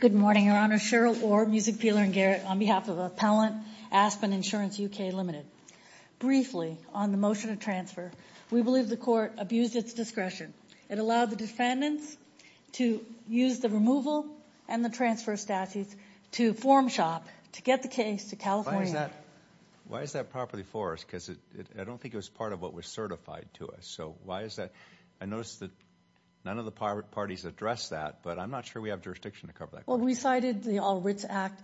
Good morning, Your Honor. Cheryl Orr, Music Peeler and Garrett on behalf of Appellant Aspen Insurance UK Ltd. Briefly, on the motion of transfer, we believe the Court abused its discretion. It allowed the defendants to use the removal and the transfer statutes to form shop to get the case to California. Why is that property for us? Because I don't think it was part of what was certified to us. So why is that? I noticed that none of the parties addressed that, but I'm not sure we have jurisdiction to cover that. Well, we cited the All Writs Act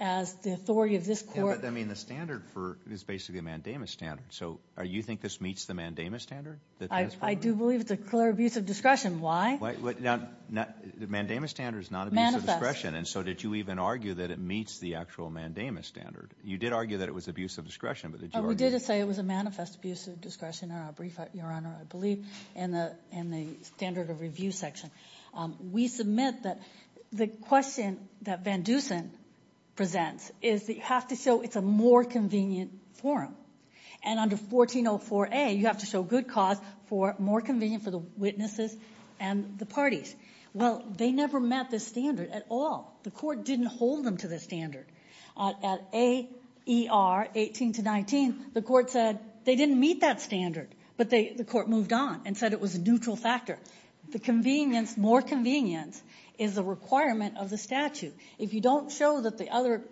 as the authority of this Court. Yeah, but I mean the standard is basically a mandamus standard. So you think this meets the mandamus standard? I do believe it's a clear abuse of discretion. Why? The mandamus standard is not an abuse of discretion. Manifest. And so did you even argue that it meets the actual mandamus standard? You did argue that it was abuse of discretion, but did you argue? We did say it was a manifest abuse of discretion, I believe, in the standard of review section. We submit that the question that Van Dusen presents is that you have to show it's a more convenient forum. And under 1404A, you have to show good cause for more convenient for the witnesses and the parties. Well, they never met this standard at all. The Court didn't hold them to the standard. At AER 18-19, the Court said they didn't meet that standard, but the Court moved on and said it was a neutral factor. The convenience, more convenience, is a requirement of the statute. If you don't show that the other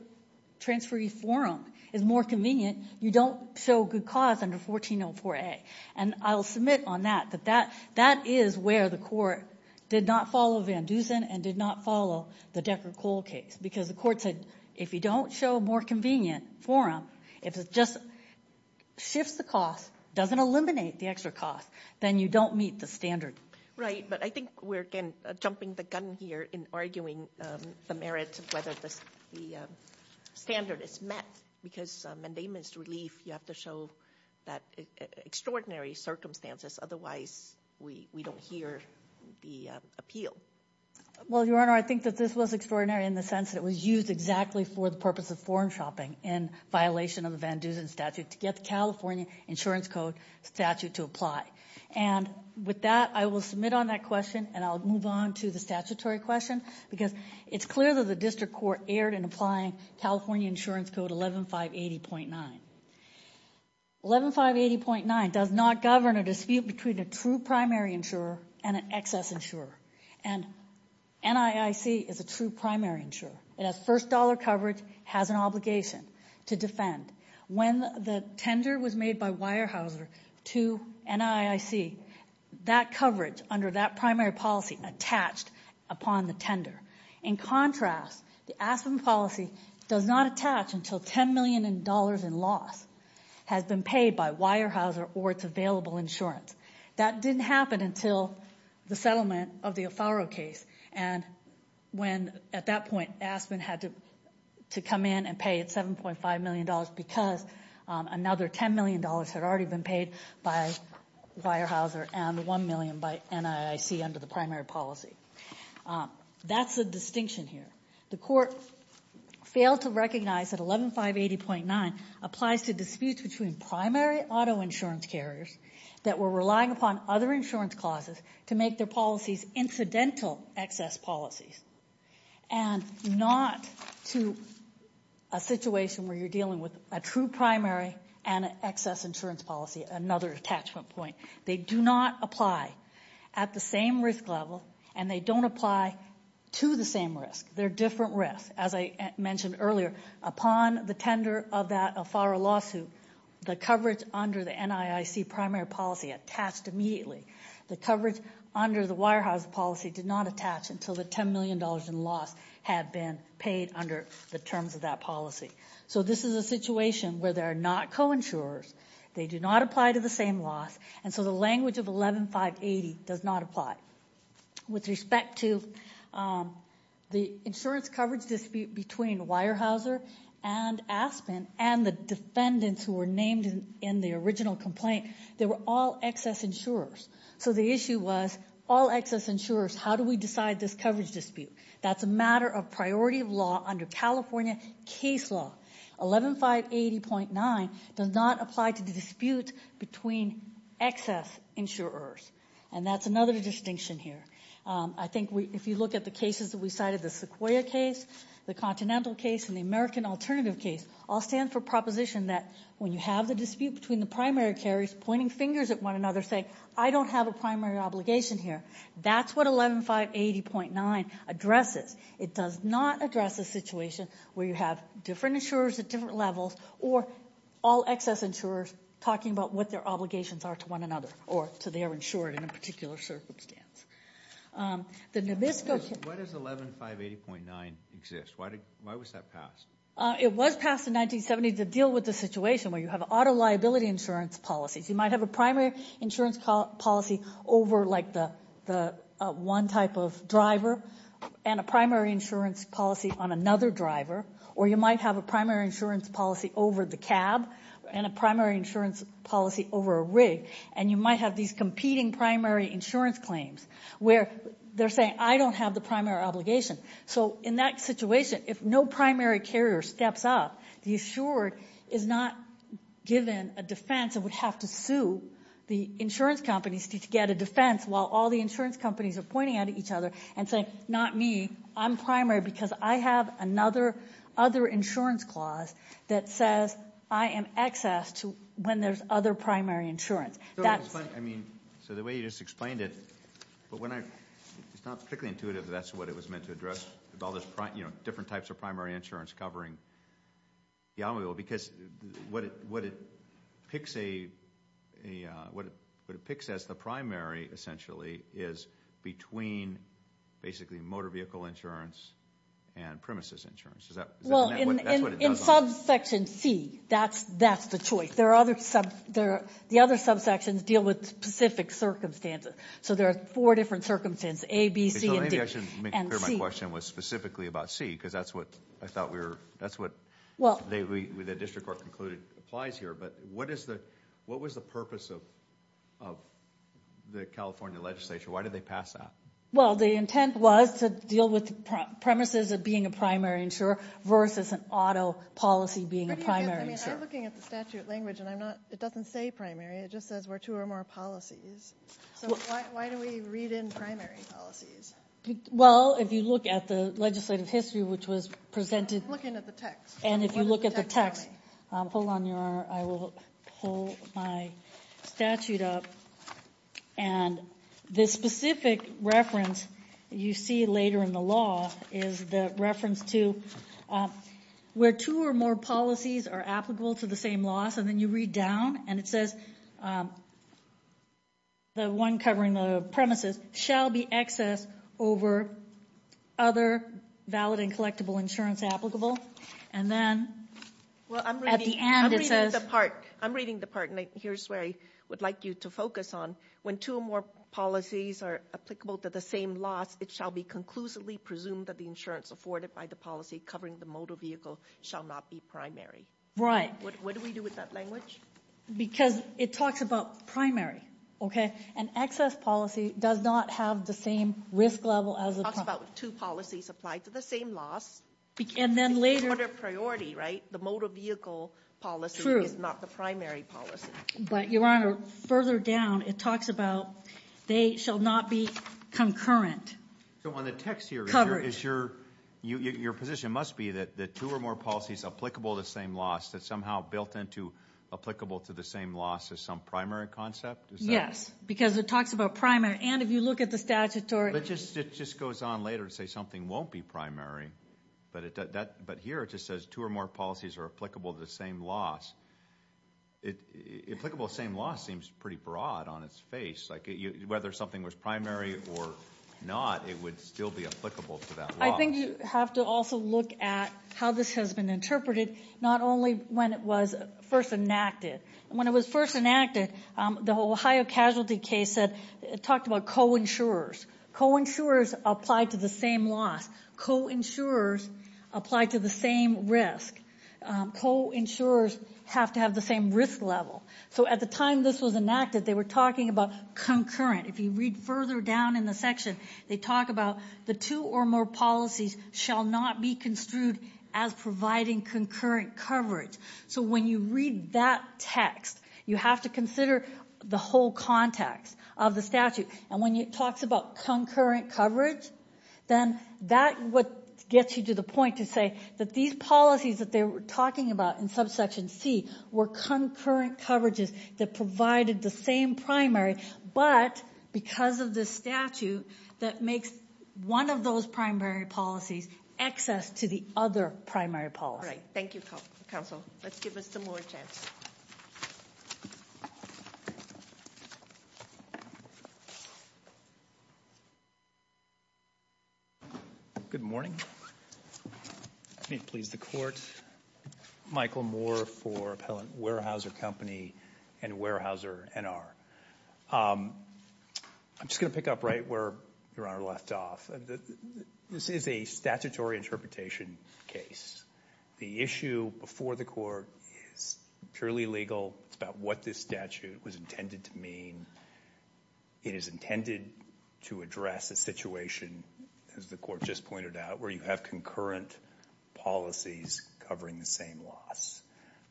transferee forum is more convenient, you don't show good cause under 1404A. And I'll submit on that that that is where the Court did not follow Van Dusen and did not follow the Decker-Cole case, because the Court said if you don't show a more convenient forum, if it just shifts the cost, doesn't eliminate the extra cost, then you don't meet the standard. Right, but I think we're again jumping the gun here in arguing the merit of whether the standard is met, because mandamus relief, you have to show that extraordinary circumstances, otherwise we don't hear the appeal. Well, Your Honor, I think that this was extraordinary in the sense that it was used exactly for the purpose of forum shopping in violation of the Van Dusen statute to get the California Insurance Code statute to apply. And with that, I will submit on that question and I'll move on to the statutory question, because it's clear that the District Court erred in applying California Insurance Code 11580.9. 11580.9 does not govern a dispute between a true primary insurer and an excess insurer. And NIIC is a true primary insurer. It has first dollar coverage, has an obligation to defend. When the tender was made by Weyerhaeuser to NIIC, that coverage under that primary policy attached upon the tender. In contrast, the Aspen policy does not attach until $10 million in loss has been paid by Weyerhaeuser or its available insurance. That didn't happen until the settlement of the Afaro case. And when, at that point, Aspen had to come in and pay $7.5 million because another $10 million had already been paid by Weyerhaeuser and $1 million by NIIC under the primary policy. That's the distinction here. The Court failed to recognize that 11580.9 applies to disputes between primary auto insurance carriers that were relying upon other insurance clauses to make their policies incidental excess policies and not to a situation where you're dealing with a true primary and an excess insurance policy, another attachment point. They do not apply at the same risk level and they don't apply to the same risk. They're different risks. As I mentioned earlier, upon the tender of that Afaro lawsuit, the coverage under the NIIC primary policy attached immediately. The coverage under the Weyerhaeuser policy did not attach until the $10 million in loss had been paid under the terms of that policy. So this is a situation where they are not co-insurers. They do not apply to the same loss and so the language of 11580 does not apply. With respect to the insurance coverage dispute between Weyerhaeuser and Aspen and the defendants who were named in the original complaint, they were all excess insurers. So the issue was all excess insurers, how do we decide this coverage dispute? That's a matter of priority of law under California case law. 11580.9 does not apply to the dispute between excess insurers and that's another distinction here. I think if you look at the cases that we cited, the Sequoia case, the Continental case and the American Alternative case all stand for proposition that when you have the dispute between the primary carriers pointing fingers at one another saying I don't have a primary obligation here, that's what 11580.9 addresses. It does not address a situation where you have different insurers at different levels or all excess insurers talking about what their obligations are to one another or to their insured in a particular circumstance. Why does 11580.9 exist? Why was that passed? It was passed in 1970 to deal with the situation where you have auto liability insurance policies. You might have a primary insurance policy over like the one type of driver and a primary insurance policy on another driver or you might have a primary insurance policy over the cab and a primary insurance policy over a rig and you might have these competing primary insurance claims where they're saying I don't have the primary obligation. So in that situation, if no primary carrier steps up, the assured is not given a defense and would have to sue the insurance companies to get a defense while all the insurance companies are pointing at each other and saying not me, I'm primary because I have other insurance clause that says I am excess to when there's other primary insurance. So the way you just explained it, it's not particularly intuitive that that's what it was meant to address with all these different types of primary insurance covering the automobile because what it picks as the primary essentially is between basically motor vehicle insurance and premises insurance. Well, in subsection C, that's the choice. The other subsections deal with specific circumstances. So there are four different circumstances, A, B, C, and D. Maybe I should make clear my question was specifically about C because that's what I thought we were, that's what the district court concluded applies here. But what was the purpose of the California legislature? Why did they pass that? Well, the intent was to deal with the premises of being a primary insurer versus an auto policy being a primary insurer. I mean, I'm looking at the statute language and I'm not, it doesn't say primary, it just says we're two or more policies. So why do we read in primary policies? Well, if you look at the legislative history which was presented. I'm looking at the text. And if you hold on your honor, I will pull my statute up. And this specific reference you see later in the law is the reference to where two or more policies are applicable to the same loss and then you read down and it says the one covering the premises shall be excess over other valid and collectible insurance applicable. And then at the end it says. Well, I'm reading the part and here's where I would like you to focus on. When two or more policies are applicable to the same loss, it shall be conclusively presumed that the insurance afforded by the policy covering the motor vehicle shall not be primary. Right. What do we do with that language? Because it talks about primary, okay? An excess policy does not have the same risk level as a. Two policies applied to the same loss. And then later. Priority, right? The motor vehicle policy is not the primary policy. But your honor, further down it talks about they shall not be concurrent. So on the text here is your position must be that the two or more policies applicable to the same loss that somehow built into applicable to the same loss as some primary concept. Yes, because it talks about primary. And if you look at the statutory. It just goes on later to say something won't be primary. But here it just says two or more policies are applicable to the same loss. Applicable to the same loss seems pretty broad on its face. Like whether something was primary or not, it would still be applicable to that loss. I think you have to also look at how this has been interpreted, not only when it was first enacted. When it was first enacted, the Ohio casualty case talked about co-insurers. Co-insurers applied to the same loss. Co-insurers applied to the same risk. Co-insurers have to have the same risk level. So at the time this was enacted, they were talking about concurrent. If you read further down in the section, they talk about the two or more policies shall not be construed as providing concurrent coverage. So when you read that text, you have to consider the whole context of the statute. And when it talks about concurrent coverage, then that's what gets you to the point to say that these policies that they were talking about in subsection C were concurrent coverages that provided the same primary, but because of the statute, that makes one of those primary policies access to the other primary policy. Thank you, counsel. Let's give us some more chance. Good morning. May it please the court. Michael Moore for Appellant Weyerhaeuser Company and Weyerhaeuser NR. I'm just going to pick up right where Your Honor left off. This is a statutory interpretation case. The issue before the court is purely legal. It's about what this statute was intended to mean. It is intended to address a situation, as the court just pointed out, where you have concurrent policies covering the same loss.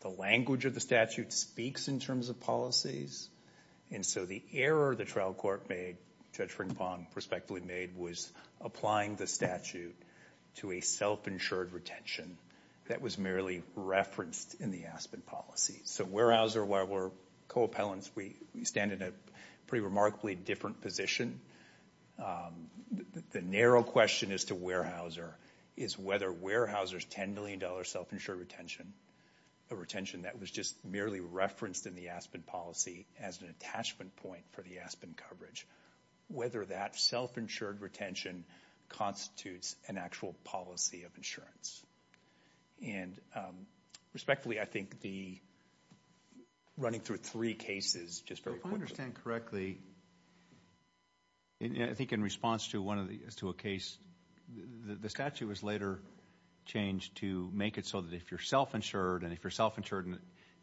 The language of the statute speaks in terms of policies. And so the error the trial court made, Judge Frink-Pahn prospectively made, was applying the statute to a self-insured retention that was merely referenced in the Aspen policy. So Weyerhaeuser, while we're co-appellants, we stand in a pretty remarkably different position. The narrow question as to Weyerhaeuser is whether Weyerhaeuser's $10 million self-insured retention, a retention that was just merely referenced in the Aspen policy as an attachment point for the Aspen coverage, whether that self-insured retention constitutes an actual policy of insurance. And respectfully, I think the running through three cases just very quickly. If I understand correctly, I think in response to one of the, to a case, the statute was later changed to make it so that if you're self-insured and if you're self-insured and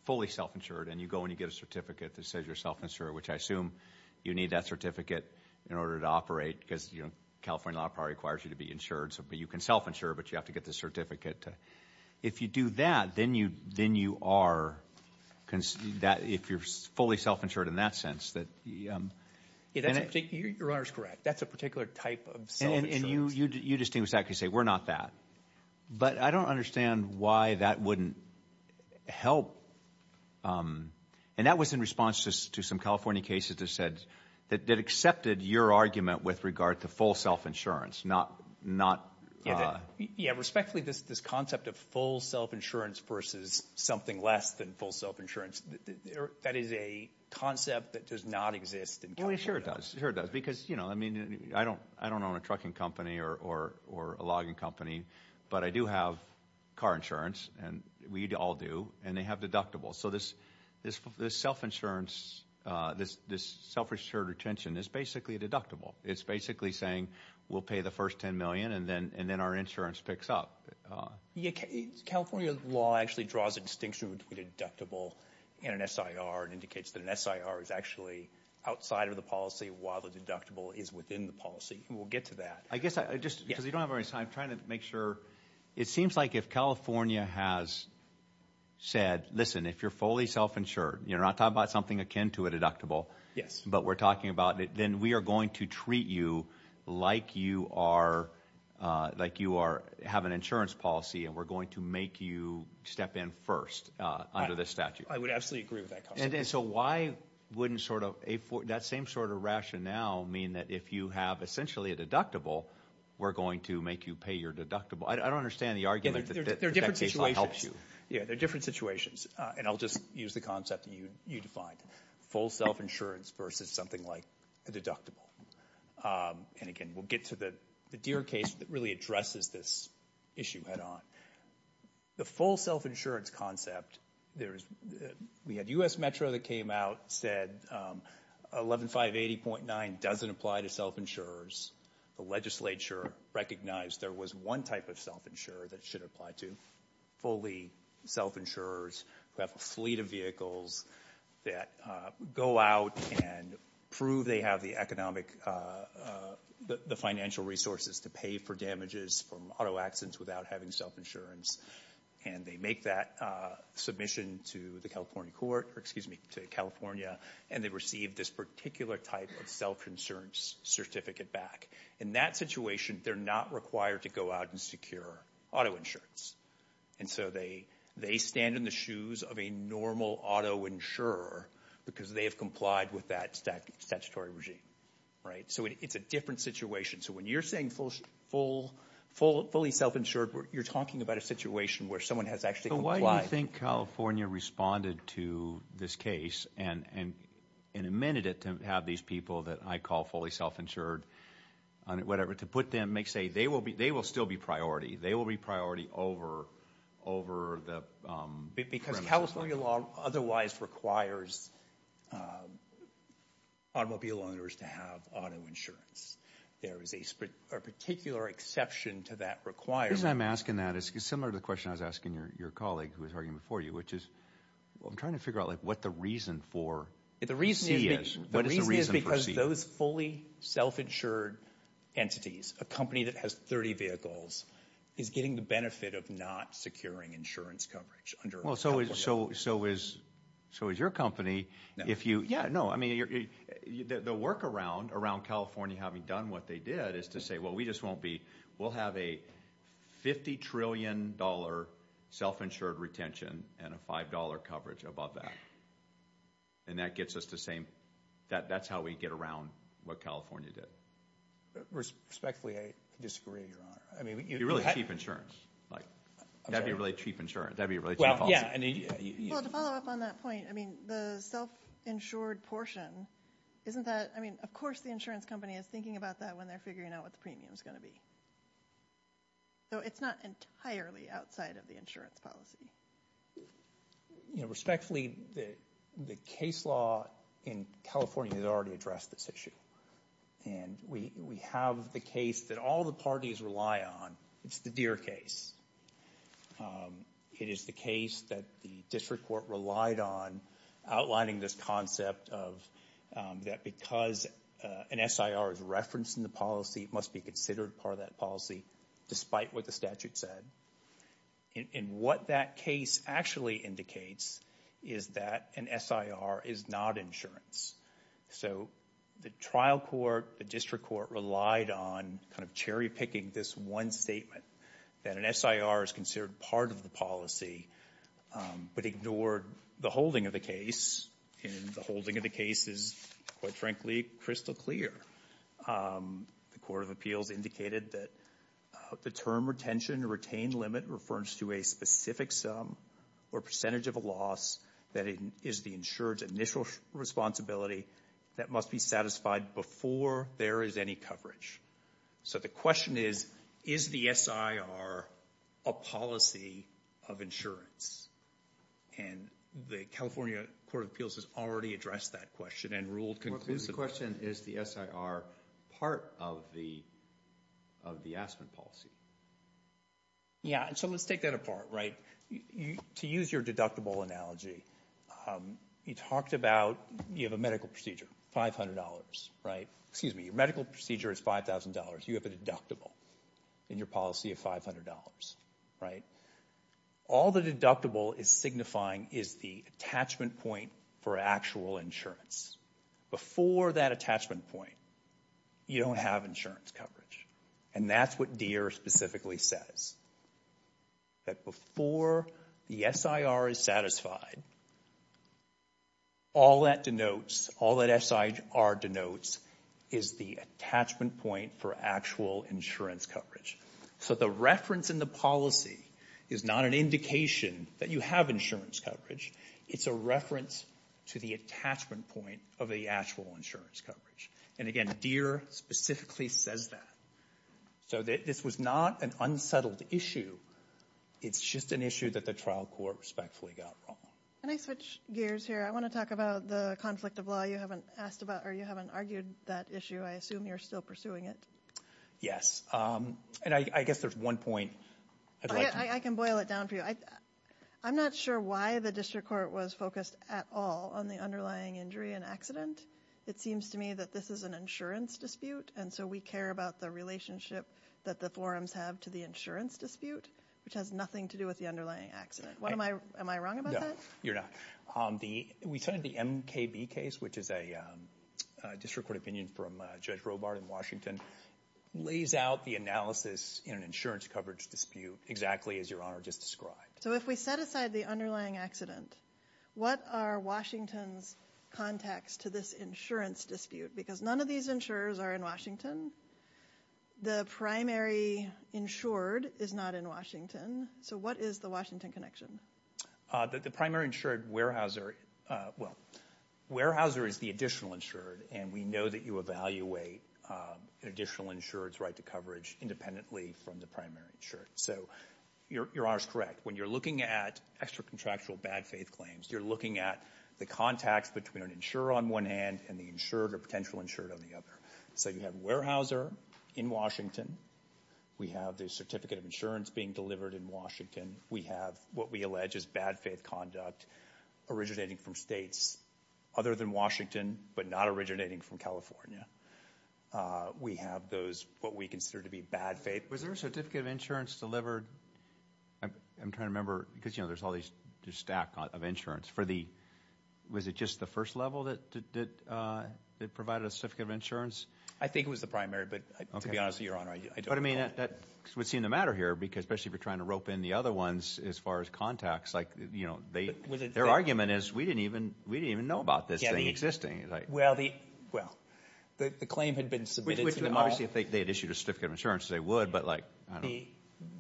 and you go and you get a certificate that says you're self-insured, which I assume you need that certificate in order to operate because, you know, California law requires you to be insured. So you can self-insure, but you have to get the certificate. If you do that, then you then you are, if you're fully self-insured in that sense. Yeah, your honor's correct. That's a particular type of self-insurance. And you, you distinctly say, we're not that. But I don't understand why that wouldn't help. And that was in response to some California cases that said, that accepted your argument with regard to full self-insurance, not, not. Yeah, respectfully, this, this concept of full self-insurance versus something less than full self-insurance, that is a concept that does not exist in California. Well, it sure does. It sure does. Because, you know, I mean, I don't, I don't own a trucking or, or, or a logging company, but I do have car insurance and we all do, and they have deductibles. So this, this, this self-insurance, this, this self-insured retention is basically a deductible. It's basically saying we'll pay the first 10 million and then, and then our insurance picks up. California law actually draws a distinction between deductible and an SIR and indicates that an SIR is actually outside of the policy while the deductible is within the policy. We'll get to that. I guess I just, because we don't have our time trying to make sure. It seems like if California has said, listen, if you're fully self-insured, you're not talking about something akin to a deductible. Yes. But we're talking about, then we are going to treat you like you are, like you are, have an insurance policy and we're going to make you step in first under this statute. I would absolutely agree with that concept. And so why wouldn't sort of, that same sort of rationale mean that if you have essentially a deductible, we're going to make you pay your deductible? I don't understand the argument that that case law helps you. Yeah, they're different situations. And I'll just use the concept that you, you defined. Full self-insurance versus something like a deductible. And again, we'll get to the, the Deere case that really addresses this issue head on. The full self-insurance concept, there is, we had U.S. Metro that came out said 11580.9 doesn't apply to self-insurers. The legislature recognized there was one type of self-insurer that should apply to fully self-insurers who have a fleet of vehicles that go out and prove they have the economic, the financial resources to pay for damages from auto accidents without having self-insurance. And they make that submission to the California court, or excuse me, to California, and they receive this particular type of self-insurance certificate back. In that situation, they're not required to go out and secure auto insurance. And so they, they stand in the shoes of a normal auto insurer because they have complied with that statutory regime. So it's a different situation. So when you're saying full, fully self-insured, you're talking about a situation where someone has actually complied. So why do you think California responded to this case and, and amended it to have these people that I call fully self-insured, whatever, to put them, make, say they will be, they will still be priority. They will be priority over, over the premises. California law otherwise requires automobile owners to have auto insurance. There is a particular exception to that requirement. The reason I'm asking that is similar to the question I was asking your, your colleague who was arguing before you, which is, well, I'm trying to figure out like what the reason for C is. The reason is, the reason is because those fully self-insured entities, a company that has 30 vehicles is getting the benefit of not securing insurance coverage. Well, so is, so, so is, so is your company. If you, yeah, no, I mean, the work around, around California, having done what they did is to say, well, we just won't be, we'll have a $50 trillion self-insured retention and a $5 coverage above that. And that gets us the same, that, that's how we get around what California did. Respectfully, I disagree, your honor. I mean, you're really cheap insurance, like that'd be really cheap insurance. That'd be a really cheap policy. Well, to follow up on that point, I mean, the self-insured portion, isn't that, I mean, of course the insurance company is thinking about that when they're figuring out what the premium is going to be. So it's not entirely outside of the insurance policy. You know, respectfully, the, the case law in California has already addressed this issue. And we, we have the case that all the parties rely on. It's the Deere case. It is the case that the district court relied on outlining this concept of, that because an SIR is referenced in the policy, it must be considered part of that policy despite what the statute said. And what that case actually indicates is that an SIR is not insurance. So the trial court, the district court relied on kind of cherry picking this one statement that an SIR is considered part of the policy, but ignored the holding of the case. And the holding of the case is, quite frankly, crystal clear. The court of appeals indicated that the term retention or retained limit refers to a specific sum or percentage of a loss that is the insured's initial responsibility that must be satisfied before there is any coverage. So the question is, is the SIR a policy of insurance? And the California court of appeals has already addressed that question and ruled conclusively. The question is, is the SIR part of the, of the Aspen policy? Yeah, so let's take that apart, right? To use your deductible analogy, you talked about, you have a medical procedure, $500, right? Excuse me, your medical procedure is $5,000. You have a deductible in your policy of $500, right? All the deductible is signifying is the attachment point for actual insurance. Before that attachment point, you don't have insurance coverage. And that's what Deere specifically says. That before the SIR is satisfied, all that denotes, all that SIR denotes, is the attachment point for actual insurance coverage. So the reference in the policy is not an indication that you have insurance coverage. It's a reference to the attachment point of the actual insurance coverage. And again, Deere specifically says that. So this was not an unsettled issue. It's just an issue that the trial court respectfully got wrong. Can I switch gears here? I want to talk about the conflict of law. You haven't asked about, or you haven't argued that issue. I assume you're still pursuing it. Yes, and I guess there's one point. I can boil it down for you. I'm not sure why the district court was focused at all on the underlying injury and accident. It seems to me that this is an insurance dispute. And so we care about the relationship that the forums have to the insurance dispute, which has nothing to do with the underlying accident. Am I wrong about that? You're not. We cited the MKB case, which is a district court opinion from Judge Robart in Washington, lays out the analysis in an insurance coverage dispute exactly as Your Honor just described. So if we set aside the underlying accident, what are Washington's contacts to this insurance dispute? Because none of these insurers are in Washington. The primary insured is not in Washington. So what is the Washington connection? The primary insured, Weyerhaeuser, well, Weyerhaeuser is the additional insured. And we know that you evaluate an additional insured's right to coverage independently from the primary insured. So Your Honor is correct. When you're looking at extra contractual bad faith claims, you're looking at the contacts between an insurer on one hand and the insured or potential insured on the other. So you have Weyerhaeuser in Washington. We have the certificate of insurance being delivered in Washington. We have what we allege is bad faith conduct originating from states other than Washington, but not originating from California. We have those, what we consider to be bad faith. Was there a certificate of insurance delivered? I'm trying to remember, because, you know, there's all this stack of insurance for the, was it just the first level that provided a certificate of insurance? I think it was the primary, but to be honest, Your Honor, I don't recall. But I mean, that would seem to matter here, especially if you're trying to rope in the other ones as far as contacts. Like, you know, their argument is we didn't even know about this thing existing. Well, the claim had been submitted to them all. Obviously, I think they had issued a certificate of insurance. They would, but like, I don't know.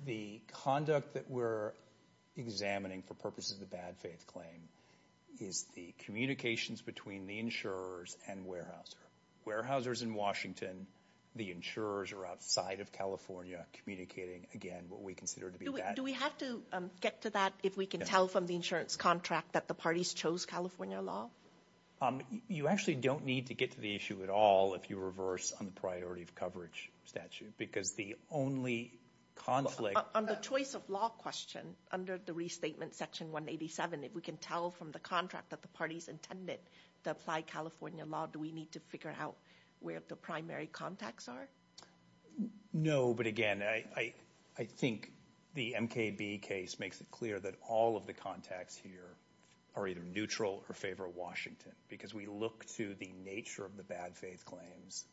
The conduct that we're examining for purposes of the bad faith claim is the communications between the insurers and Weyerhaeuser. Weyerhaeuser is in Washington. The insurers are outside of California communicating, again, what we consider to be bad. Do we have to get to that if we can tell from the insurance contract that the parties chose California law? You actually don't need to get to the issue at all if you reverse on the priority of coverage statute, because the only conflict... On the choice of law question, under the restatement section 187, if we can tell from the contract that the parties intended to apply California law, do we need to figure out where the primary contacts are? No, but again, I think the MKB case makes it clear that all of the contacts here are either neutral or favor Washington, because we look to the nature of the bad faith claims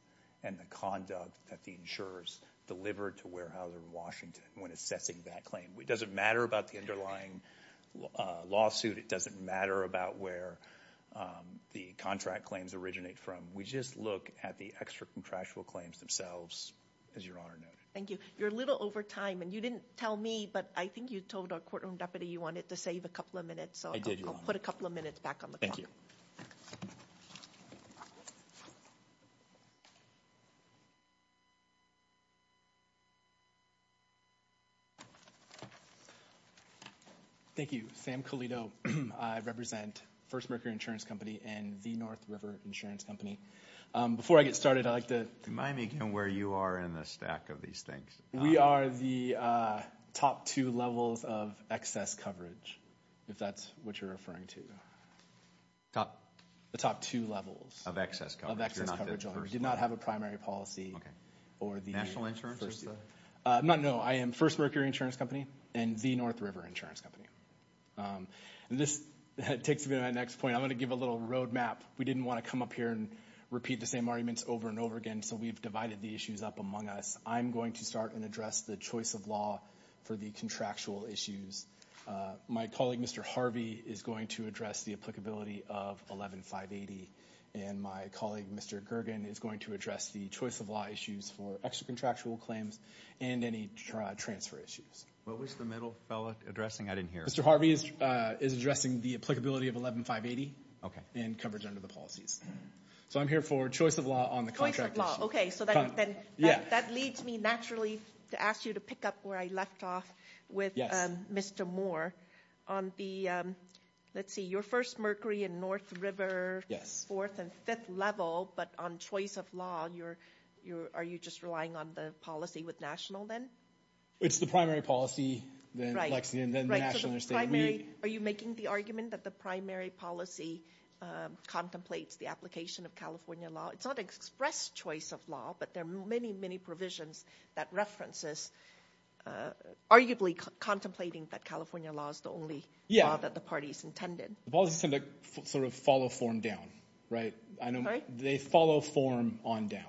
and the conduct that the insurers delivered to Weyerhaeuser in Washington when assessing that claim. It doesn't matter about the underlying lawsuit. It doesn't matter about where the contract claims originate from. We just look at the extra contractual claims themselves, as Your Honor noted. Thank you. You're a little over time, and you didn't tell me, but I think you told our courtroom deputy you wanted to save a couple of minutes, so I'll put a couple of minutes back on the clock. Thank you. Thank you. Sam Colito. I represent First Mercury Insurance Company and the North River Insurance Company. Before I get started, I'd like to... Remind me again where you are in the stack of these things. We are the top two levels of excess coverage, if that's what you're referring to. Top? The top two levels. Of excess coverage. Of excess coverage. Did not have a primary policy. Or the... National insurance? No, I am First Mercury Insurance Company and the North River Insurance Company. And this takes me to that next point. I'm going to give a little roadmap. We didn't want to come up here and repeat the same arguments over and over again, so we've divided the issues up among us. I'm going to start and address the choice of law for the contractual issues. My colleague, Mr. Harvey, is going to address the applicability of 11-580. And my colleague, Mr. Gergen, is going to address the choice of law issues for extra contractual claims and any transfer issues. What was the middle fella addressing? I didn't hear. Mr. Harvey is addressing the applicability of 11-580. Okay. And coverage under the policies. So I'm here for choice of law on the contractual issues. Okay, so that leads me naturally to ask you to pick up where I left off with Mr. Moore. On the, let's see, your First Mercury and North River fourth and fifth level, but on choice of law, are you just relying on the policy with national then? It's the primary policy. Right. Lexington, then the national or state. Are you making the argument that the primary policy contemplates the application of California law? It's not express choice of law, but there are many, many provisions that references arguably contemplating that California law is the only law that the parties intended. The policies tend to sort of follow form down, right? I know they follow form on down.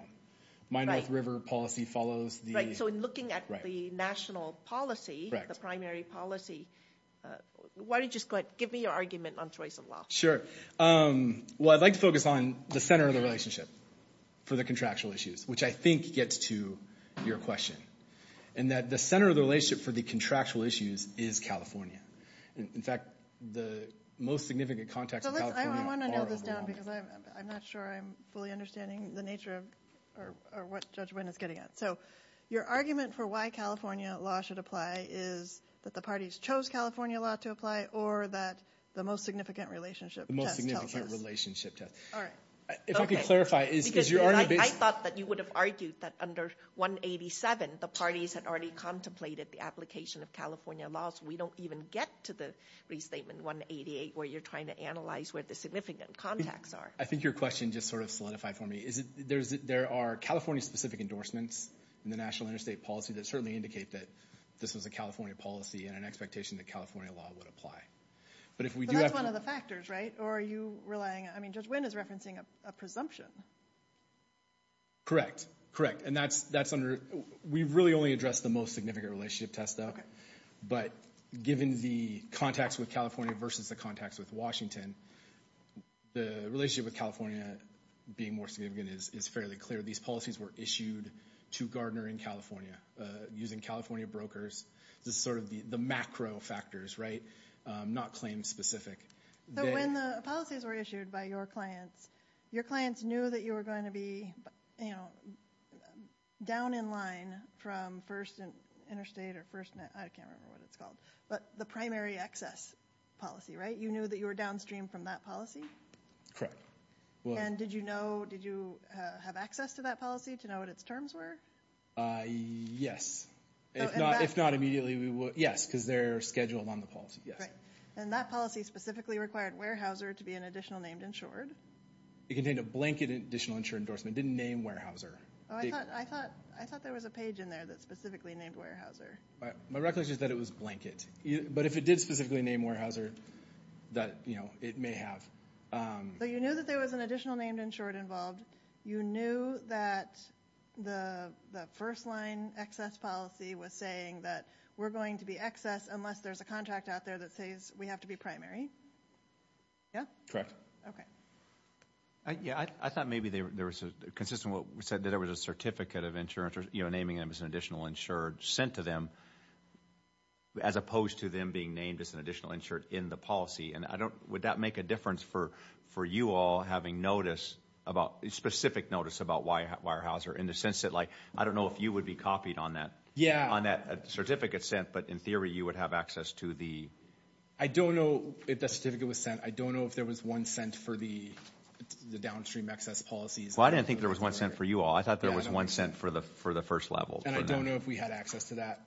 My North River policy follows the... Right, so in looking at the national policy... The primary policy, why don't you just give me your argument on choice of law? Sure. Well, I'd like to focus on the center of the relationship for the contractual issues, which I think gets to your question. And that the center of the relationship for the contractual issues is California. And in fact, the most significant context of California are... I want to nail this down because I'm not sure I'm fully understanding the nature of or what Judge Wynn is getting at. Your argument for why California law should apply is that the parties chose California law to apply, or that the most significant relationship test tells us? The most significant relationship test. All right. If I could clarify, is your argument... I thought that you would have argued that under 187, the parties had already contemplated the application of California laws. We don't even get to the restatement 188, where you're trying to analyze where the significant contacts are. I think your question just sort of solidified for me. There are California-specific endorsements in the national interstate policy that certainly indicate that this was a California policy and an expectation that California law would apply. That's one of the factors, right? Or are you relying... I mean, Judge Wynn is referencing a presumption. Correct, correct. And that's under... We've really only addressed the most significant relationship test, though. But given the contacts with California versus the contacts with Washington, the relationship with California being more significant is fairly clear. These policies were issued to Gardner in California using California brokers. This is sort of the macro factors, right? Not claim-specific. So when the policies were issued by your clients, your clients knew that you were going to be, you know, down in line from first interstate or first... I can't remember what it's called. But the primary access policy, right? You knew that you were downstream from that policy? And did you know... Did you have access to that policy to know what its terms were? Yes. If not immediately, we would... Yes, because they're scheduled on the policy. Yes. And that policy specifically required Weyerhaeuser to be an additional named insured? It contained a blanket additional insured endorsement. It didn't name Weyerhaeuser. Oh, I thought there was a page in there that specifically named Weyerhaeuser. My recollection is that it was blanket. But if it did specifically name Weyerhaeuser, that, you know, it may have. So you knew that there was an additional named insured involved. You knew that the first line access policy was saying that we're going to be excess unless there's a contract out there that says we have to be primary? Yeah? Correct. Okay. Yeah, I thought maybe there was a consistent... What we said that there was a certificate of insurance, you know, naming them as an additional insured sent to them as opposed to them being named as an additional insured in the policy. And I don't... Would that make a difference for you all having notice about... Specific notice about Weyerhaeuser in the sense that, like, I don't know if you would be copied on that certificate sent, but in theory, you would have access to the... I don't know if the certificate was sent. I don't know if there was one sent for the downstream excess policies. Well, I didn't think there was one sent for you all. I thought there was one sent for the first level. And I don't know if we had access to that.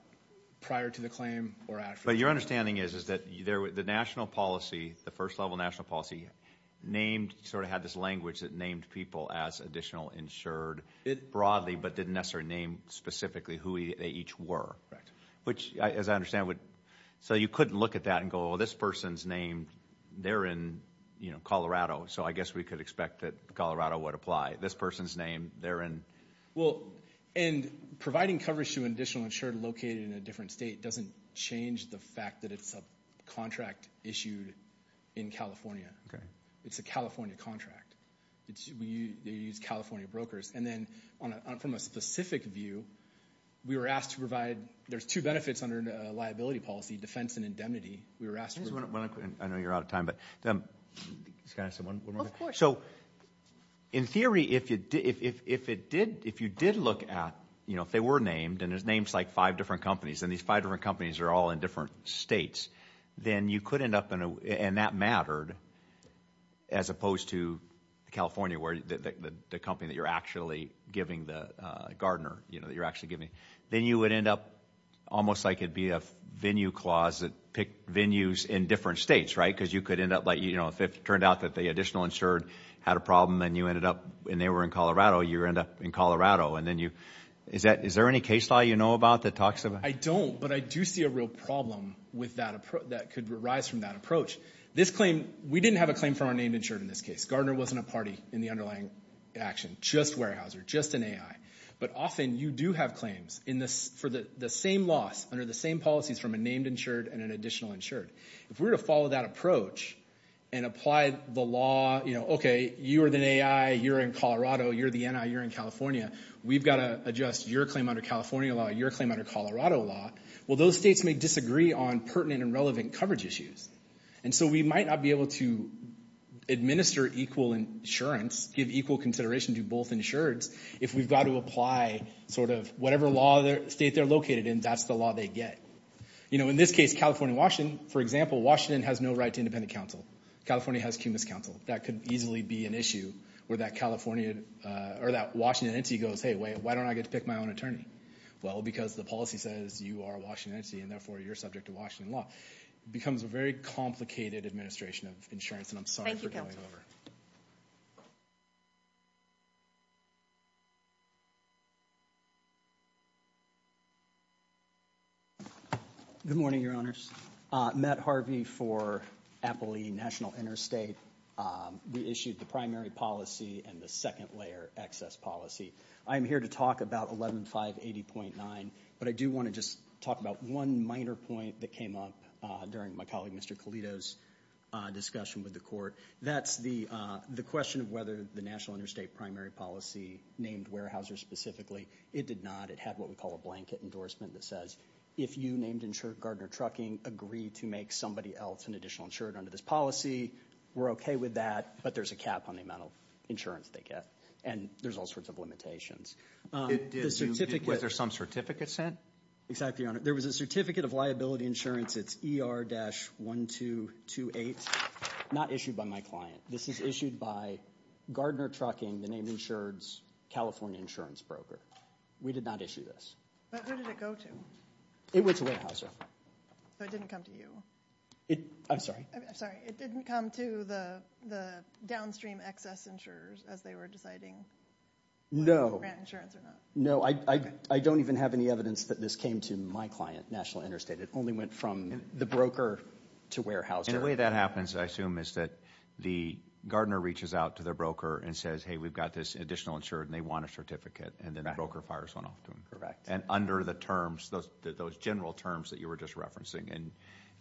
Prior to the claim or after. But your understanding is that the national policy, the first level national policy named, sort of had this language that named people as additional insured broadly, but didn't necessarily name specifically who they each were. Correct. Which, as I understand, would... So you couldn't look at that and go, well, this person's name, they're in, you know, Colorado. So I guess we could expect that Colorado would apply. This person's name, they're in... And providing coverage to an additional insured located in a different state doesn't change the fact that it's a contract issued in California. It's a California contract. They use California brokers. And then from a specific view, we were asked to provide... There's two benefits under a liability policy, defense and indemnity. We were asked to... I know you're out of time, but... So in theory, if you did look at, you know, if they were named and there's names like five different companies, and these five different companies are all in different states, then you could end up in a... And that mattered as opposed to California, where the company that you're actually giving, the gardener, you know, that you're actually giving, then you would end up almost like it'd be a venue clause that pick venues in different states, right? Because you could end up like, you know, if it turned out that the additional insured had a problem and you ended up and they were in Colorado, you end up in Colorado and then you... Is there any case law you know about that talks about... I don't, but I do see a real problem with that approach that could arise from that approach. This claim, we didn't have a claim for our named insured in this case. Gardner wasn't a party in the underlying action, just Weyerhaeuser, just an AI. But often you do have claims for the same loss under the same policies from a named insured and an additional insured. If we were to follow that approach and apply the law, you know, okay, you are the AI, you're in Colorado, you're the NI, you're in California. We've got to adjust your claim under California law, your claim under Colorado law. Well, those states may disagree on pertinent and relevant coverage issues. And so we might not be able to administer equal insurance, give equal consideration to both insureds if we've got to apply sort of whatever law state they're located in, that's the law they get. You know, in this case, California and Washington, for example, Washington has no right to independent counsel. California has cumulus counsel. That could easily be an issue where that Washington entity goes, hey, why don't I get to pick my own attorney? Well, because the policy says you are a Washington entity and therefore you're subject to Washington law. It becomes a very complicated administration of insurance and I'm sorry for going over. Thank you, Cale. Good morning, your honors. Matt Harvey for Appley National Interstate. We issued the primary policy and the second layer access policy. I am here to talk about 11-580.9, but I do want to just talk about one minor point that came up during my colleague Mr. Colito's discussion with the court. That's the question of whether the National Interstate primary policy named Weyerhaeuser specifically. It did not. It had what we call a blanket endorsement that says if you named insured Gardner Trucking, agree to make somebody else an additional insured under this policy, we're OK with that, but there's a cap on the amount of insurance they get and there's all sorts of limitations. Was there some certificate sent? Exactly, your honor. There was a certificate of liability insurance. It's ER-1228, not issued by my client. This is issued by Gardner Trucking, the named insured's California insurance broker. We did not issue this. But who did it go to? It went to Weyerhaeuser. So it didn't come to you? I'm sorry? I'm sorry. It didn't come to the downstream excess insurers as they were deciding whether to grant insurance or not? No, I don't even have any evidence that this came to my client, National Interstate. It only went from the broker to Weyerhaeuser. And the way that happens, I assume, is that the Gardner reaches out to their broker and says, hey, we've got this additional insured and they want a certificate, and then the broker fires one off to them. Correct. And under the terms, those general terms that you were just referencing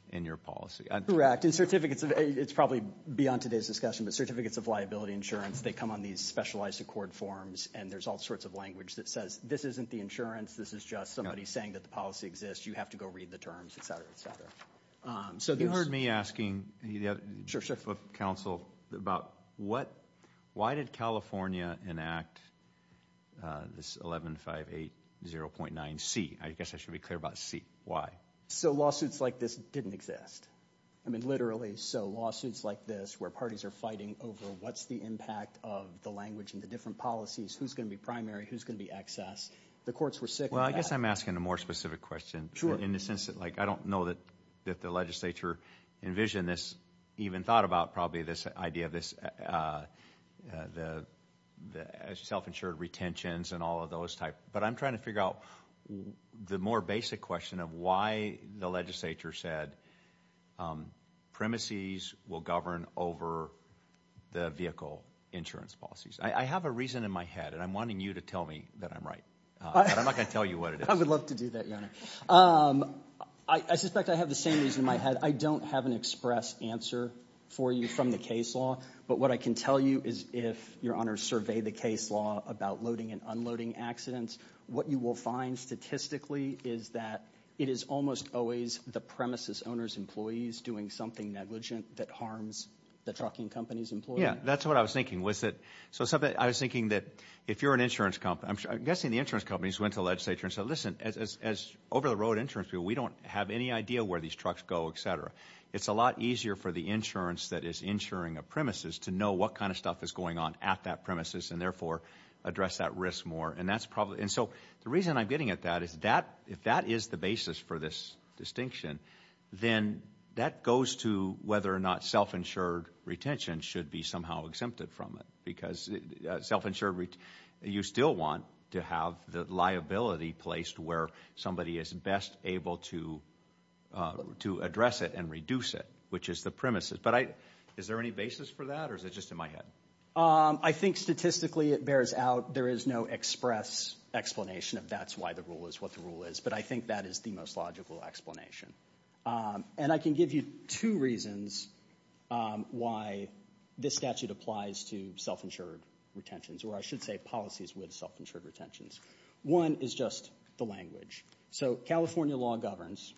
in your policy. Correct. And certificates of, it's probably beyond today's discussion, but certificates of liability insurance, they come on these specialized accord forms. And there's all sorts of language that says, this isn't the insurance. This is just somebody saying that the policy exists. You have to go read the terms, et cetera, et cetera. So you heard me asking the chief of counsel about why did California enact this 11-5-8-0.9c? I guess I should be clear about c. Why? So lawsuits like this didn't exist. I mean, literally. So lawsuits like this, where parties are fighting over what's the impact of the language and the different policies, who's going to be primary, who's going to be excess. The courts were sick of that. Well, I guess I'm asking a more specific question. Sure. In the sense that I don't know that the legislature envisioned even thought about probably this idea of self-insured retentions and all of those type. But I'm trying to figure out the more basic question of why the legislature said premises will govern over the vehicle insurance policies. I have a reason in my head. And I'm wanting you to tell me that I'm right. But I'm not going to tell you what it is. I would love to do that, Your Honor. I suspect I have the same reason in my head. I don't have an express answer for you from the case law. But what I can tell you is if, Your Honor, survey the case law about loading and unloading accidents, what you will find statistically is that it is almost always the premises owner's employees doing something negligent that harms the trucking company's employee. Yeah, that's what I was thinking. So I was thinking that if you're an insurance company, I'm guessing the insurance companies went to the legislature and said, listen, as over-the-road insurance people, we don't have any idea where these trucks go, et cetera. It's a lot easier for the insurance that is insuring a premises to know what kind of stuff is going on at that premises and therefore address that risk more. And that's probably. And so the reason I'm getting at that is that if that is the basis for this distinction, then that goes to whether or not self-insured retention should be somehow exempted from it because self-insured, you still want to have the liability placed where somebody is best able to address it and reduce it, which is the premises. But is there any basis for that? Or is it just in my head? I think statistically it bears out there is no express explanation of that's why the rule is what the rule is. But I think that is the most logical explanation. And I can give you two reasons why this statute applies to self-insured retentions, or I should say policies with self-insured retentions. One is just the language. So California law governs.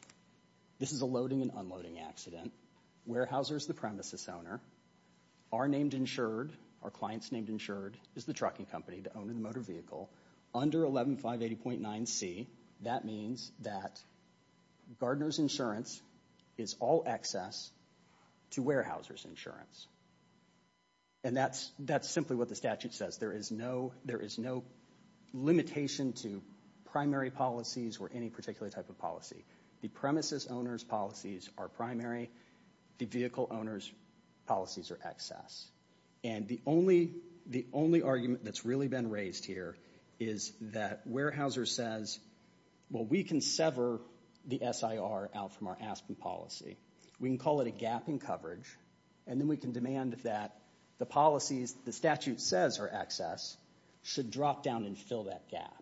This is a loading and unloading accident. Warehousers, the premises owner are named insured. Our clients named insured is the trucking company, the owner of the motor vehicle under 11.580.9c. That means that Gardner's insurance is all access to warehousers insurance. And that's that's simply what the statute says. There is no limitation to primary policies or any particular type of policy. The premises owner's policies are primary. The vehicle owner's policies are access. And the only argument that's really been raised here is that Warehouser says, well, we can sever the SIR out from our Aspen policy. We can call it a gap in coverage. And then we can demand that the policies the statute says are access should drop down and fill that gap.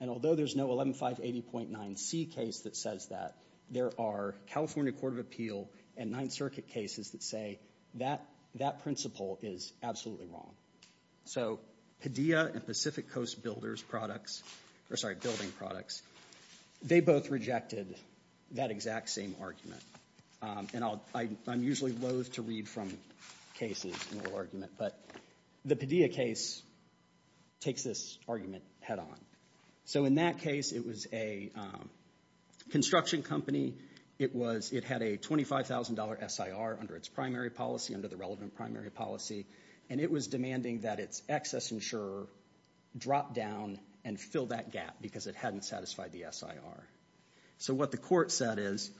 And although there's no 11.580.9c case that says that, there are California Court of Appeal and Ninth Circuit cases that say that principle is absolutely wrong. So Padilla and Pacific Coast Builders products, or sorry, building products, they both rejected that exact same argument. And I'm usually loathe to read from cases but the Padilla case takes this argument head on. So in that case, it was a construction company. It had a $25,000 SIR under its primary policy, under the relevant primary policy. And it was demanding that its access insurer drop down and fill that gap because it hadn't satisfied the SIR. So what the court said is,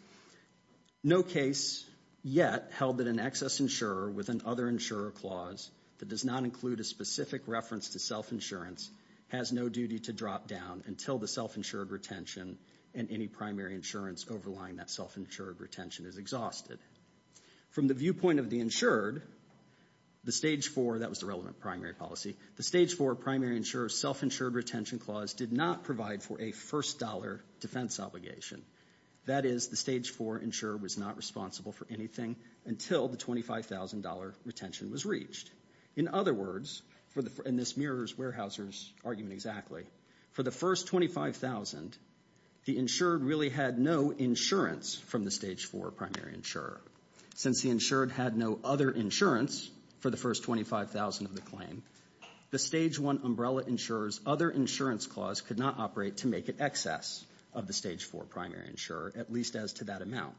no case yet held that an access insurer with an other insurer clause that does not include a specific reference to self-insurance has no duty to drop down until the self-insured retention and any primary insurance overlying that self-insured retention is exhausted. From the viewpoint of the insured, the stage four, that was the relevant primary policy, the stage four primary insurer self-insured retention clause did not provide for a first dollar defense obligation. That is the stage four insurer was not responsible for anything until the $25,000 retention was reached. In other words, and this mirrors Weyerhaeuser's argument exactly, for the first 25,000, the insured really had no insurance from the stage four primary insurer. Since the insured had no other insurance for the first 25,000 of the claim, the stage one umbrella insurers other insurance clause could not operate to make it excess of the stage four primary insurer, at least as to that amount.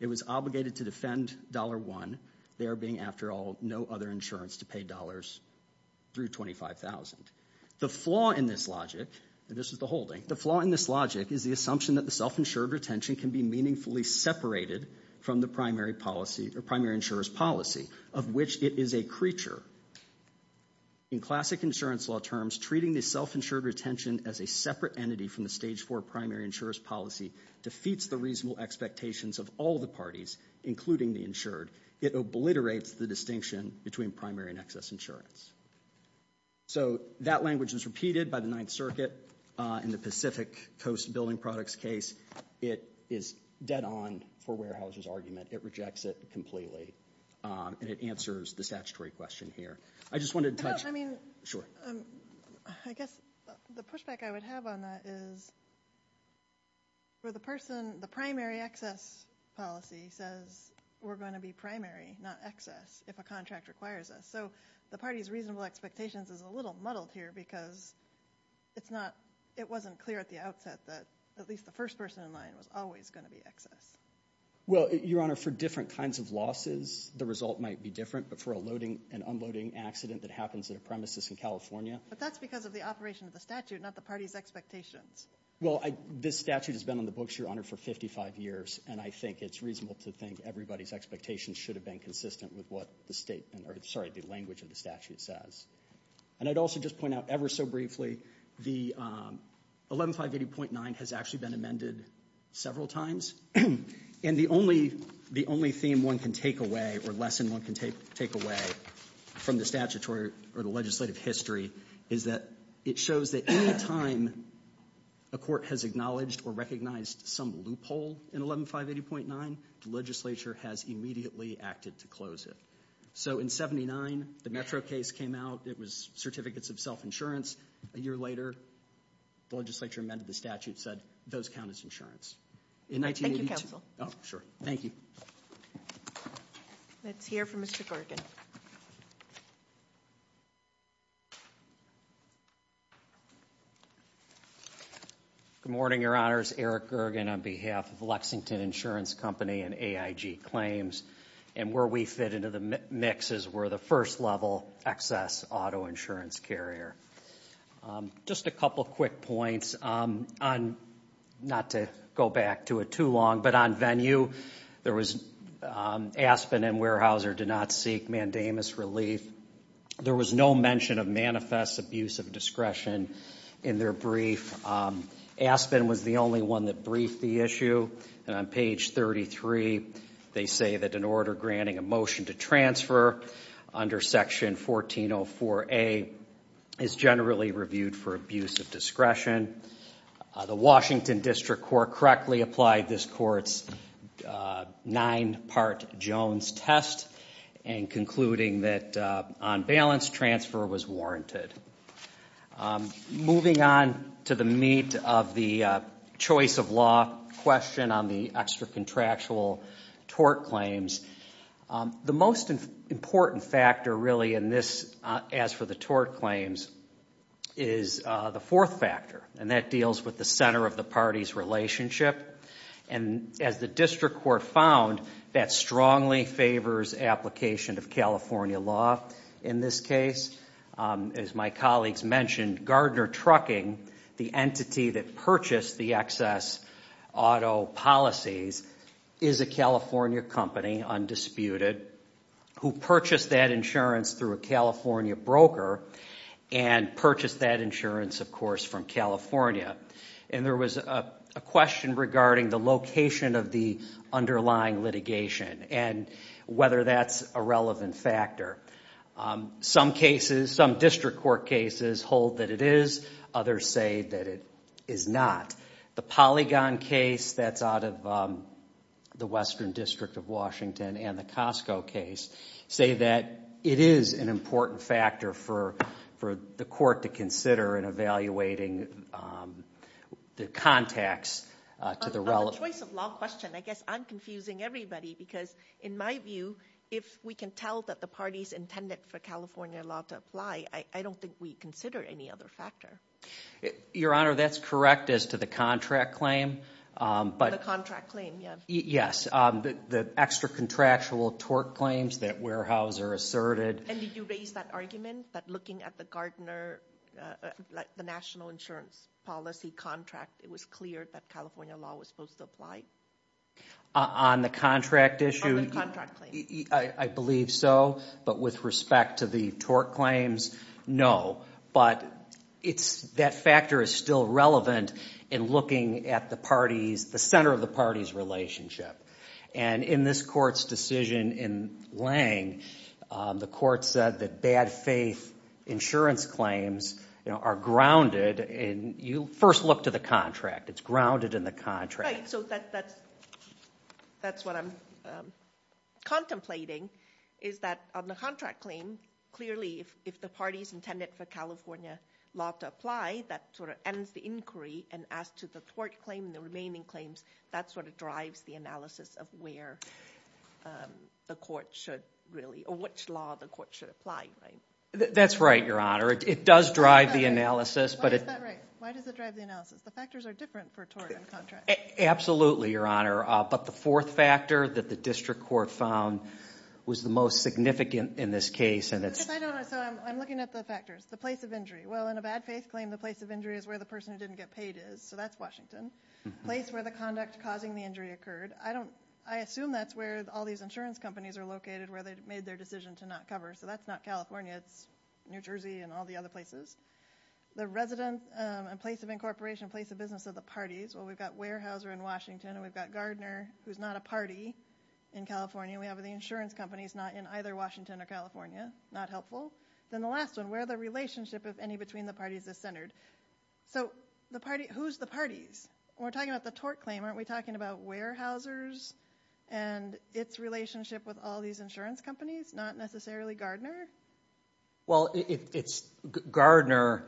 It was obligated to defend dollar one, there being, after all, no other insurance to pay dollars through 25,000. The flaw in this logic, and this is the holding, the flaw in this logic is the assumption that the self-insured retention can be meaningfully separated from the primary policy or primary insurer's policy, of which it is a creature. In classic insurance law terms, treating the self-insured retention as a separate entity from the stage four primary insurer's policy defeats the reasonable expectations of all the parties, including the insured. It obliterates the distinction between primary and excess insurance. So that language is repeated by the Ninth Circuit in the Pacific Coast Building Products case. It is dead on for Warehouse's argument. It rejects it completely, and it answers the statutory question here. I just wanted to touch- I mean- Sure. I guess the pushback I would have on that is for the person- the primary excess policy says we're going to be primary, not excess, if a contract requires us. So the party's reasonable expectations is a little muddled here because it's not- it wasn't clear at the outset that at least the first person in line was always going to be excess. Well, Your Honor, for different kinds of losses, the result might be different, but for a loading and unloading accident that happens at a premises in California- But that's because of the operation of the statute, not the party's expectations. Well, this statute has been on the books, Your Honor, for 55 years, and I think it's reasonable to think everybody's expectations should have been consistent with what the language of the statute says. And I'd also just point out ever so briefly, the 11580.9 has actually been amended several times, and the only theme one can take away, or lesson one can take away from the statutory or the legislative history is that it shows that any time a court has acknowledged or recognized some loophole in 11580.9, the legislature has immediately acted to close it. So in 79, the Metro case came out. It was certificates of self-insurance. A year later, the legislature amended the statute, said those count as insurance. In 1982- Thank you, counsel. Oh, sure. Thank you. Let's hear from Mr. Corgan. Good morning, Your Honors. Eric Corgan on behalf of Lexington Insurance Company and AIG Claims. And where we fit into the mix is we're the first-level excess auto insurance carrier. Just a couple of quick points on, not to go back to it too long, but on venue, there was Aspen and Weyerhaeuser did not seek mandamus relief. There was no mention of manifest abuse of discretion in their brief. Aspen was the only one that briefed the issue. And on page 33, they say that in order granting a motion to transfer under section 1404A is generally reviewed for abuse of discretion. The Washington District Court correctly applied this court's nine-part Jones test and concluding that on balance, transfer was warranted. I'm moving on to the meat of the choice of law question on the extra-contractual tort claims. The most important factor, really, in this, as for the tort claims, is the fourth factor, and that deals with the center of the party's relationship. And as the District Court found, that strongly favors application of California law in this case. As my colleagues mentioned, Gardner Trucking, the entity that purchased the excess auto policies, is a California company, undisputed, who purchased that insurance through a California broker and purchased that insurance, of course, from California. And there was a question regarding the location of the underlying litigation and whether that's a relevant factor. Some cases, some District Court cases, hold that it is. Others say that it is not. The Polygon case, that's out of the Western District of Washington and the Costco case, say that it is an important factor for the court to consider in evaluating the contacts to the relevant... On the choice of law question, I guess I'm confusing everybody because, in my view, if we can tell that the party's intended for California law to apply, I don't think we consider any other factor. Your Honor, that's correct as to the contract claim, but... The contract claim, yeah. Yes, the extra contractual torque claims that Weyerhaeuser asserted. And did you raise that argument that looking at the Gardner, the national insurance policy contract, it was clear that California law was supposed to apply? On the contract issue... On the contract claim. I believe so. But with respect to the torque claims, no. But that factor is still relevant in looking at the parties, the center of the parties' relationship. And in this court's decision in Lange, the court said that bad faith insurance claims are grounded in... You first look to the contract. It's grounded in the contract. Right, so that's what I'm... Contemplating is that on the contract claim, clearly if the party's intended for California law to apply, that sort of ends the inquiry. And as to the torque claim and the remaining claims, that sort of drives the analysis of where the court should really... Or which law the court should apply, right? That's right, Your Honor. It does drive the analysis, but... Why is that right? Why does it drive the analysis? The factors are different for torque and contract. Absolutely, Your Honor. But the fourth factor that the district court found was the most significant in this case, and it's... Yes, I don't know. So I'm looking at the factors. The place of injury. Well, in a bad faith claim, the place of injury is where the person who didn't get paid is. So that's Washington. Place where the conduct causing the injury occurred. I assume that's where all these insurance companies are located, where they made their decision to not cover. So that's not California. It's New Jersey and all the other places. The resident and place of incorporation, place of business of the parties. Well, we've got Weyerhaeuser in Washington, and we've got Gardner, who's not a party in California. We have the insurance companies not in either Washington or California. Not helpful. Then the last one, where the relationship, if any, between the parties is centered. So the party... Who's the parties? We're talking about the torque claim. Aren't we talking about Weyerhaeuser's and its relationship with all these insurance companies, not necessarily Gardner? Well, it's Gardner.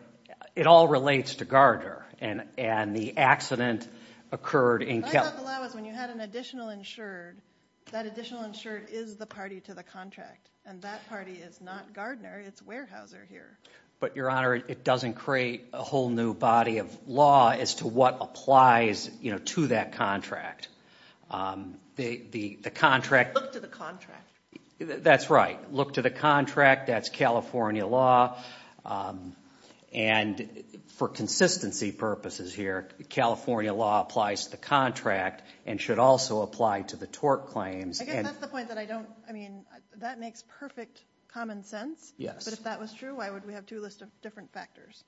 It all relates to Gardner and the accident occurred in... I thought the law was when you had an additional insured, that additional insured is the party to the contract. And that party is not Gardner. It's Weyerhaeuser here. But Your Honor, it doesn't create a whole new body of law as to what applies to that contract. The contract... Look to the contract. That's right. Look to the contract. That's California law. And for consistency purposes here, California law applies to the contract and should also apply to the torque claims. I guess that's the point that I don't... I mean, that makes perfect common sense. Yes. But if that was true, why would we have two lists of different factors?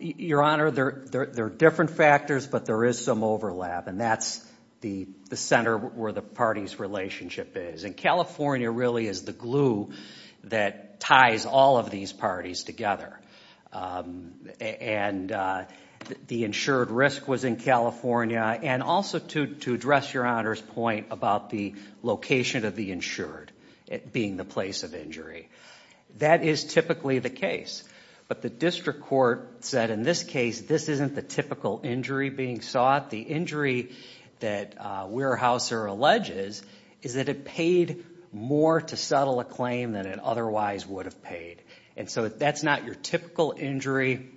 Your Honor, there are different factors, but there is some overlap. And that's the center where the party's relationship is. And California really is the glue that ties all of these parties together. And the insured risk was in California. And also to address Your Honor's point about the location of the insured being the place of injury. That is typically the case. But the district court said, in this case, this isn't the typical injury being sought. The injury that Weyerhaeuser alleges is that it paid more to settle a claim than it otherwise would have paid. And so that's not your typical injury.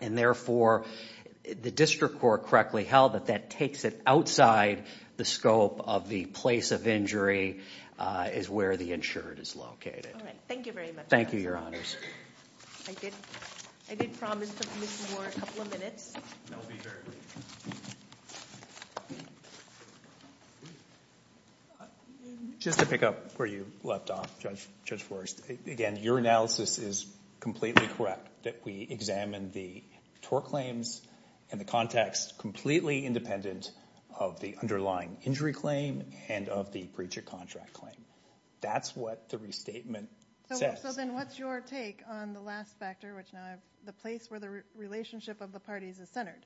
And therefore, the district court correctly held that that takes it outside the scope of the place of injury is where the insured is located. All right. Thank you very much. Thank you, Your Honors. I did promise to give you a couple of minutes. That will be very brief. Just to pick up where you left off, Judge Forrest. Again, your analysis is completely correct that we examine the tort claims and the context completely independent of the underlying injury claim and of the breach of contract claim. That's what the restatement says. So then what's your take on the last factor, which now the place where the relationship of the parties is centered?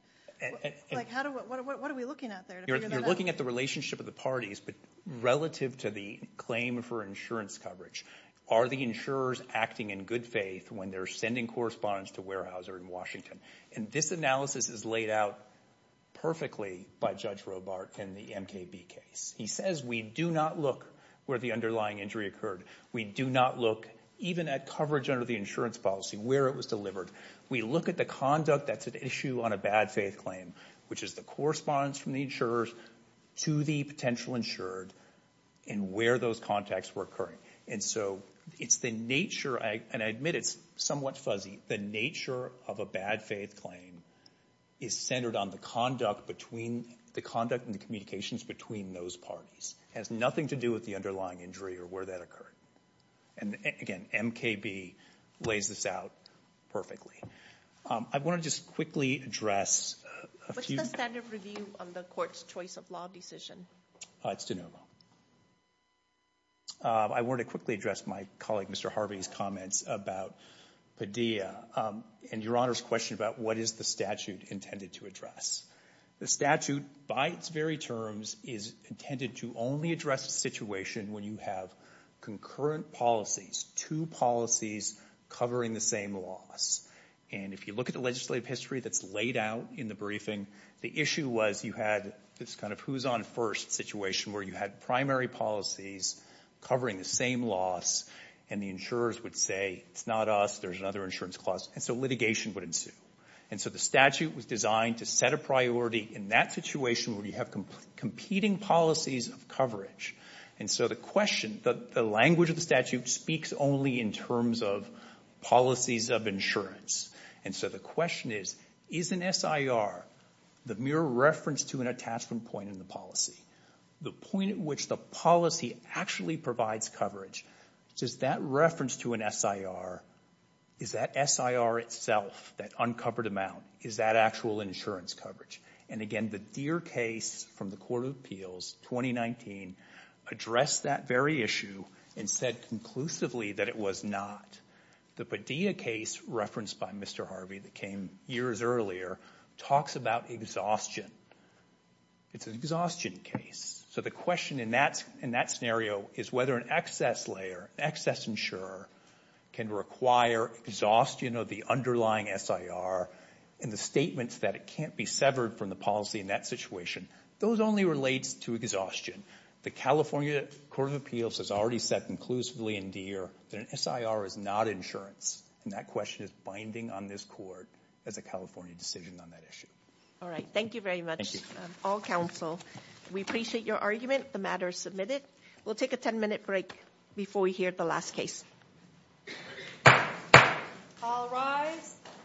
Like, what are we looking at there? You're looking at the relationship of the parties, but relative to the claim for insurance coverage, are the insurers acting in good faith when they're sending correspondence to Weyerhaeuser in Washington? And this analysis is laid out perfectly by Judge Robart in the MKB case. He says, we do not look where the underlying injury occurred. We do not look even at coverage under the insurance policy, where it was delivered. We look at the conduct that's an issue on a bad faith claim, which is the correspondence from the insurers to the potential insured and where those contacts were occurring. And so it's the nature, and I admit it's somewhat fuzzy, the nature of a bad faith claim is centered on the conduct between the conduct and the communications between those parties. It has nothing to do with the underlying injury or where that occurred. And again, MKB lays this out perfectly. I want to just quickly address a few- The court's choice of law decision. It's de novo. I want to quickly address my colleague, Mr. Harvey's comments about Padilla and Your Honor's question about what is the statute intended to address? The statute by its very terms is intended to only address a situation when you have concurrent policies, two policies covering the same loss. And if you look at the legislative history that's laid out in the briefing, the issue was you had this kind of who's on first situation where you had primary policies covering the same loss and the insurers would say, it's not us, there's another insurance clause. And so litigation would ensue. And so the statute was designed to set a priority in that situation where you have competing policies of coverage. And so the question, the language of the statute speaks only in terms of policies of insurance. And so the question is, is an SIR the mere reference to an attachment point in the policy, the point at which the policy actually provides coverage? Does that reference to an SIR, is that SIR itself, that uncovered amount, is that actual insurance coverage? And again, the Deere case from the Court of Appeals 2019 addressed that very issue and said conclusively that it was not. The Padilla case referenced by Mr. Harvey that came years earlier talks about exhaustion. It's an exhaustion case. So the question in that scenario is whether an excess insurer can require exhaustion of the underlying SIR and the statements that it can't be severed from the policy in that situation. Those only relates to exhaustion. The California Court of Appeals has already said conclusively in Deere that an SIR is not insurance. And that question is binding on this court as a California decision on that issue. All right. Thank you very much, all counsel. We appreciate your argument. The matter is submitted. We'll take a 10-minute break before we hear the last case.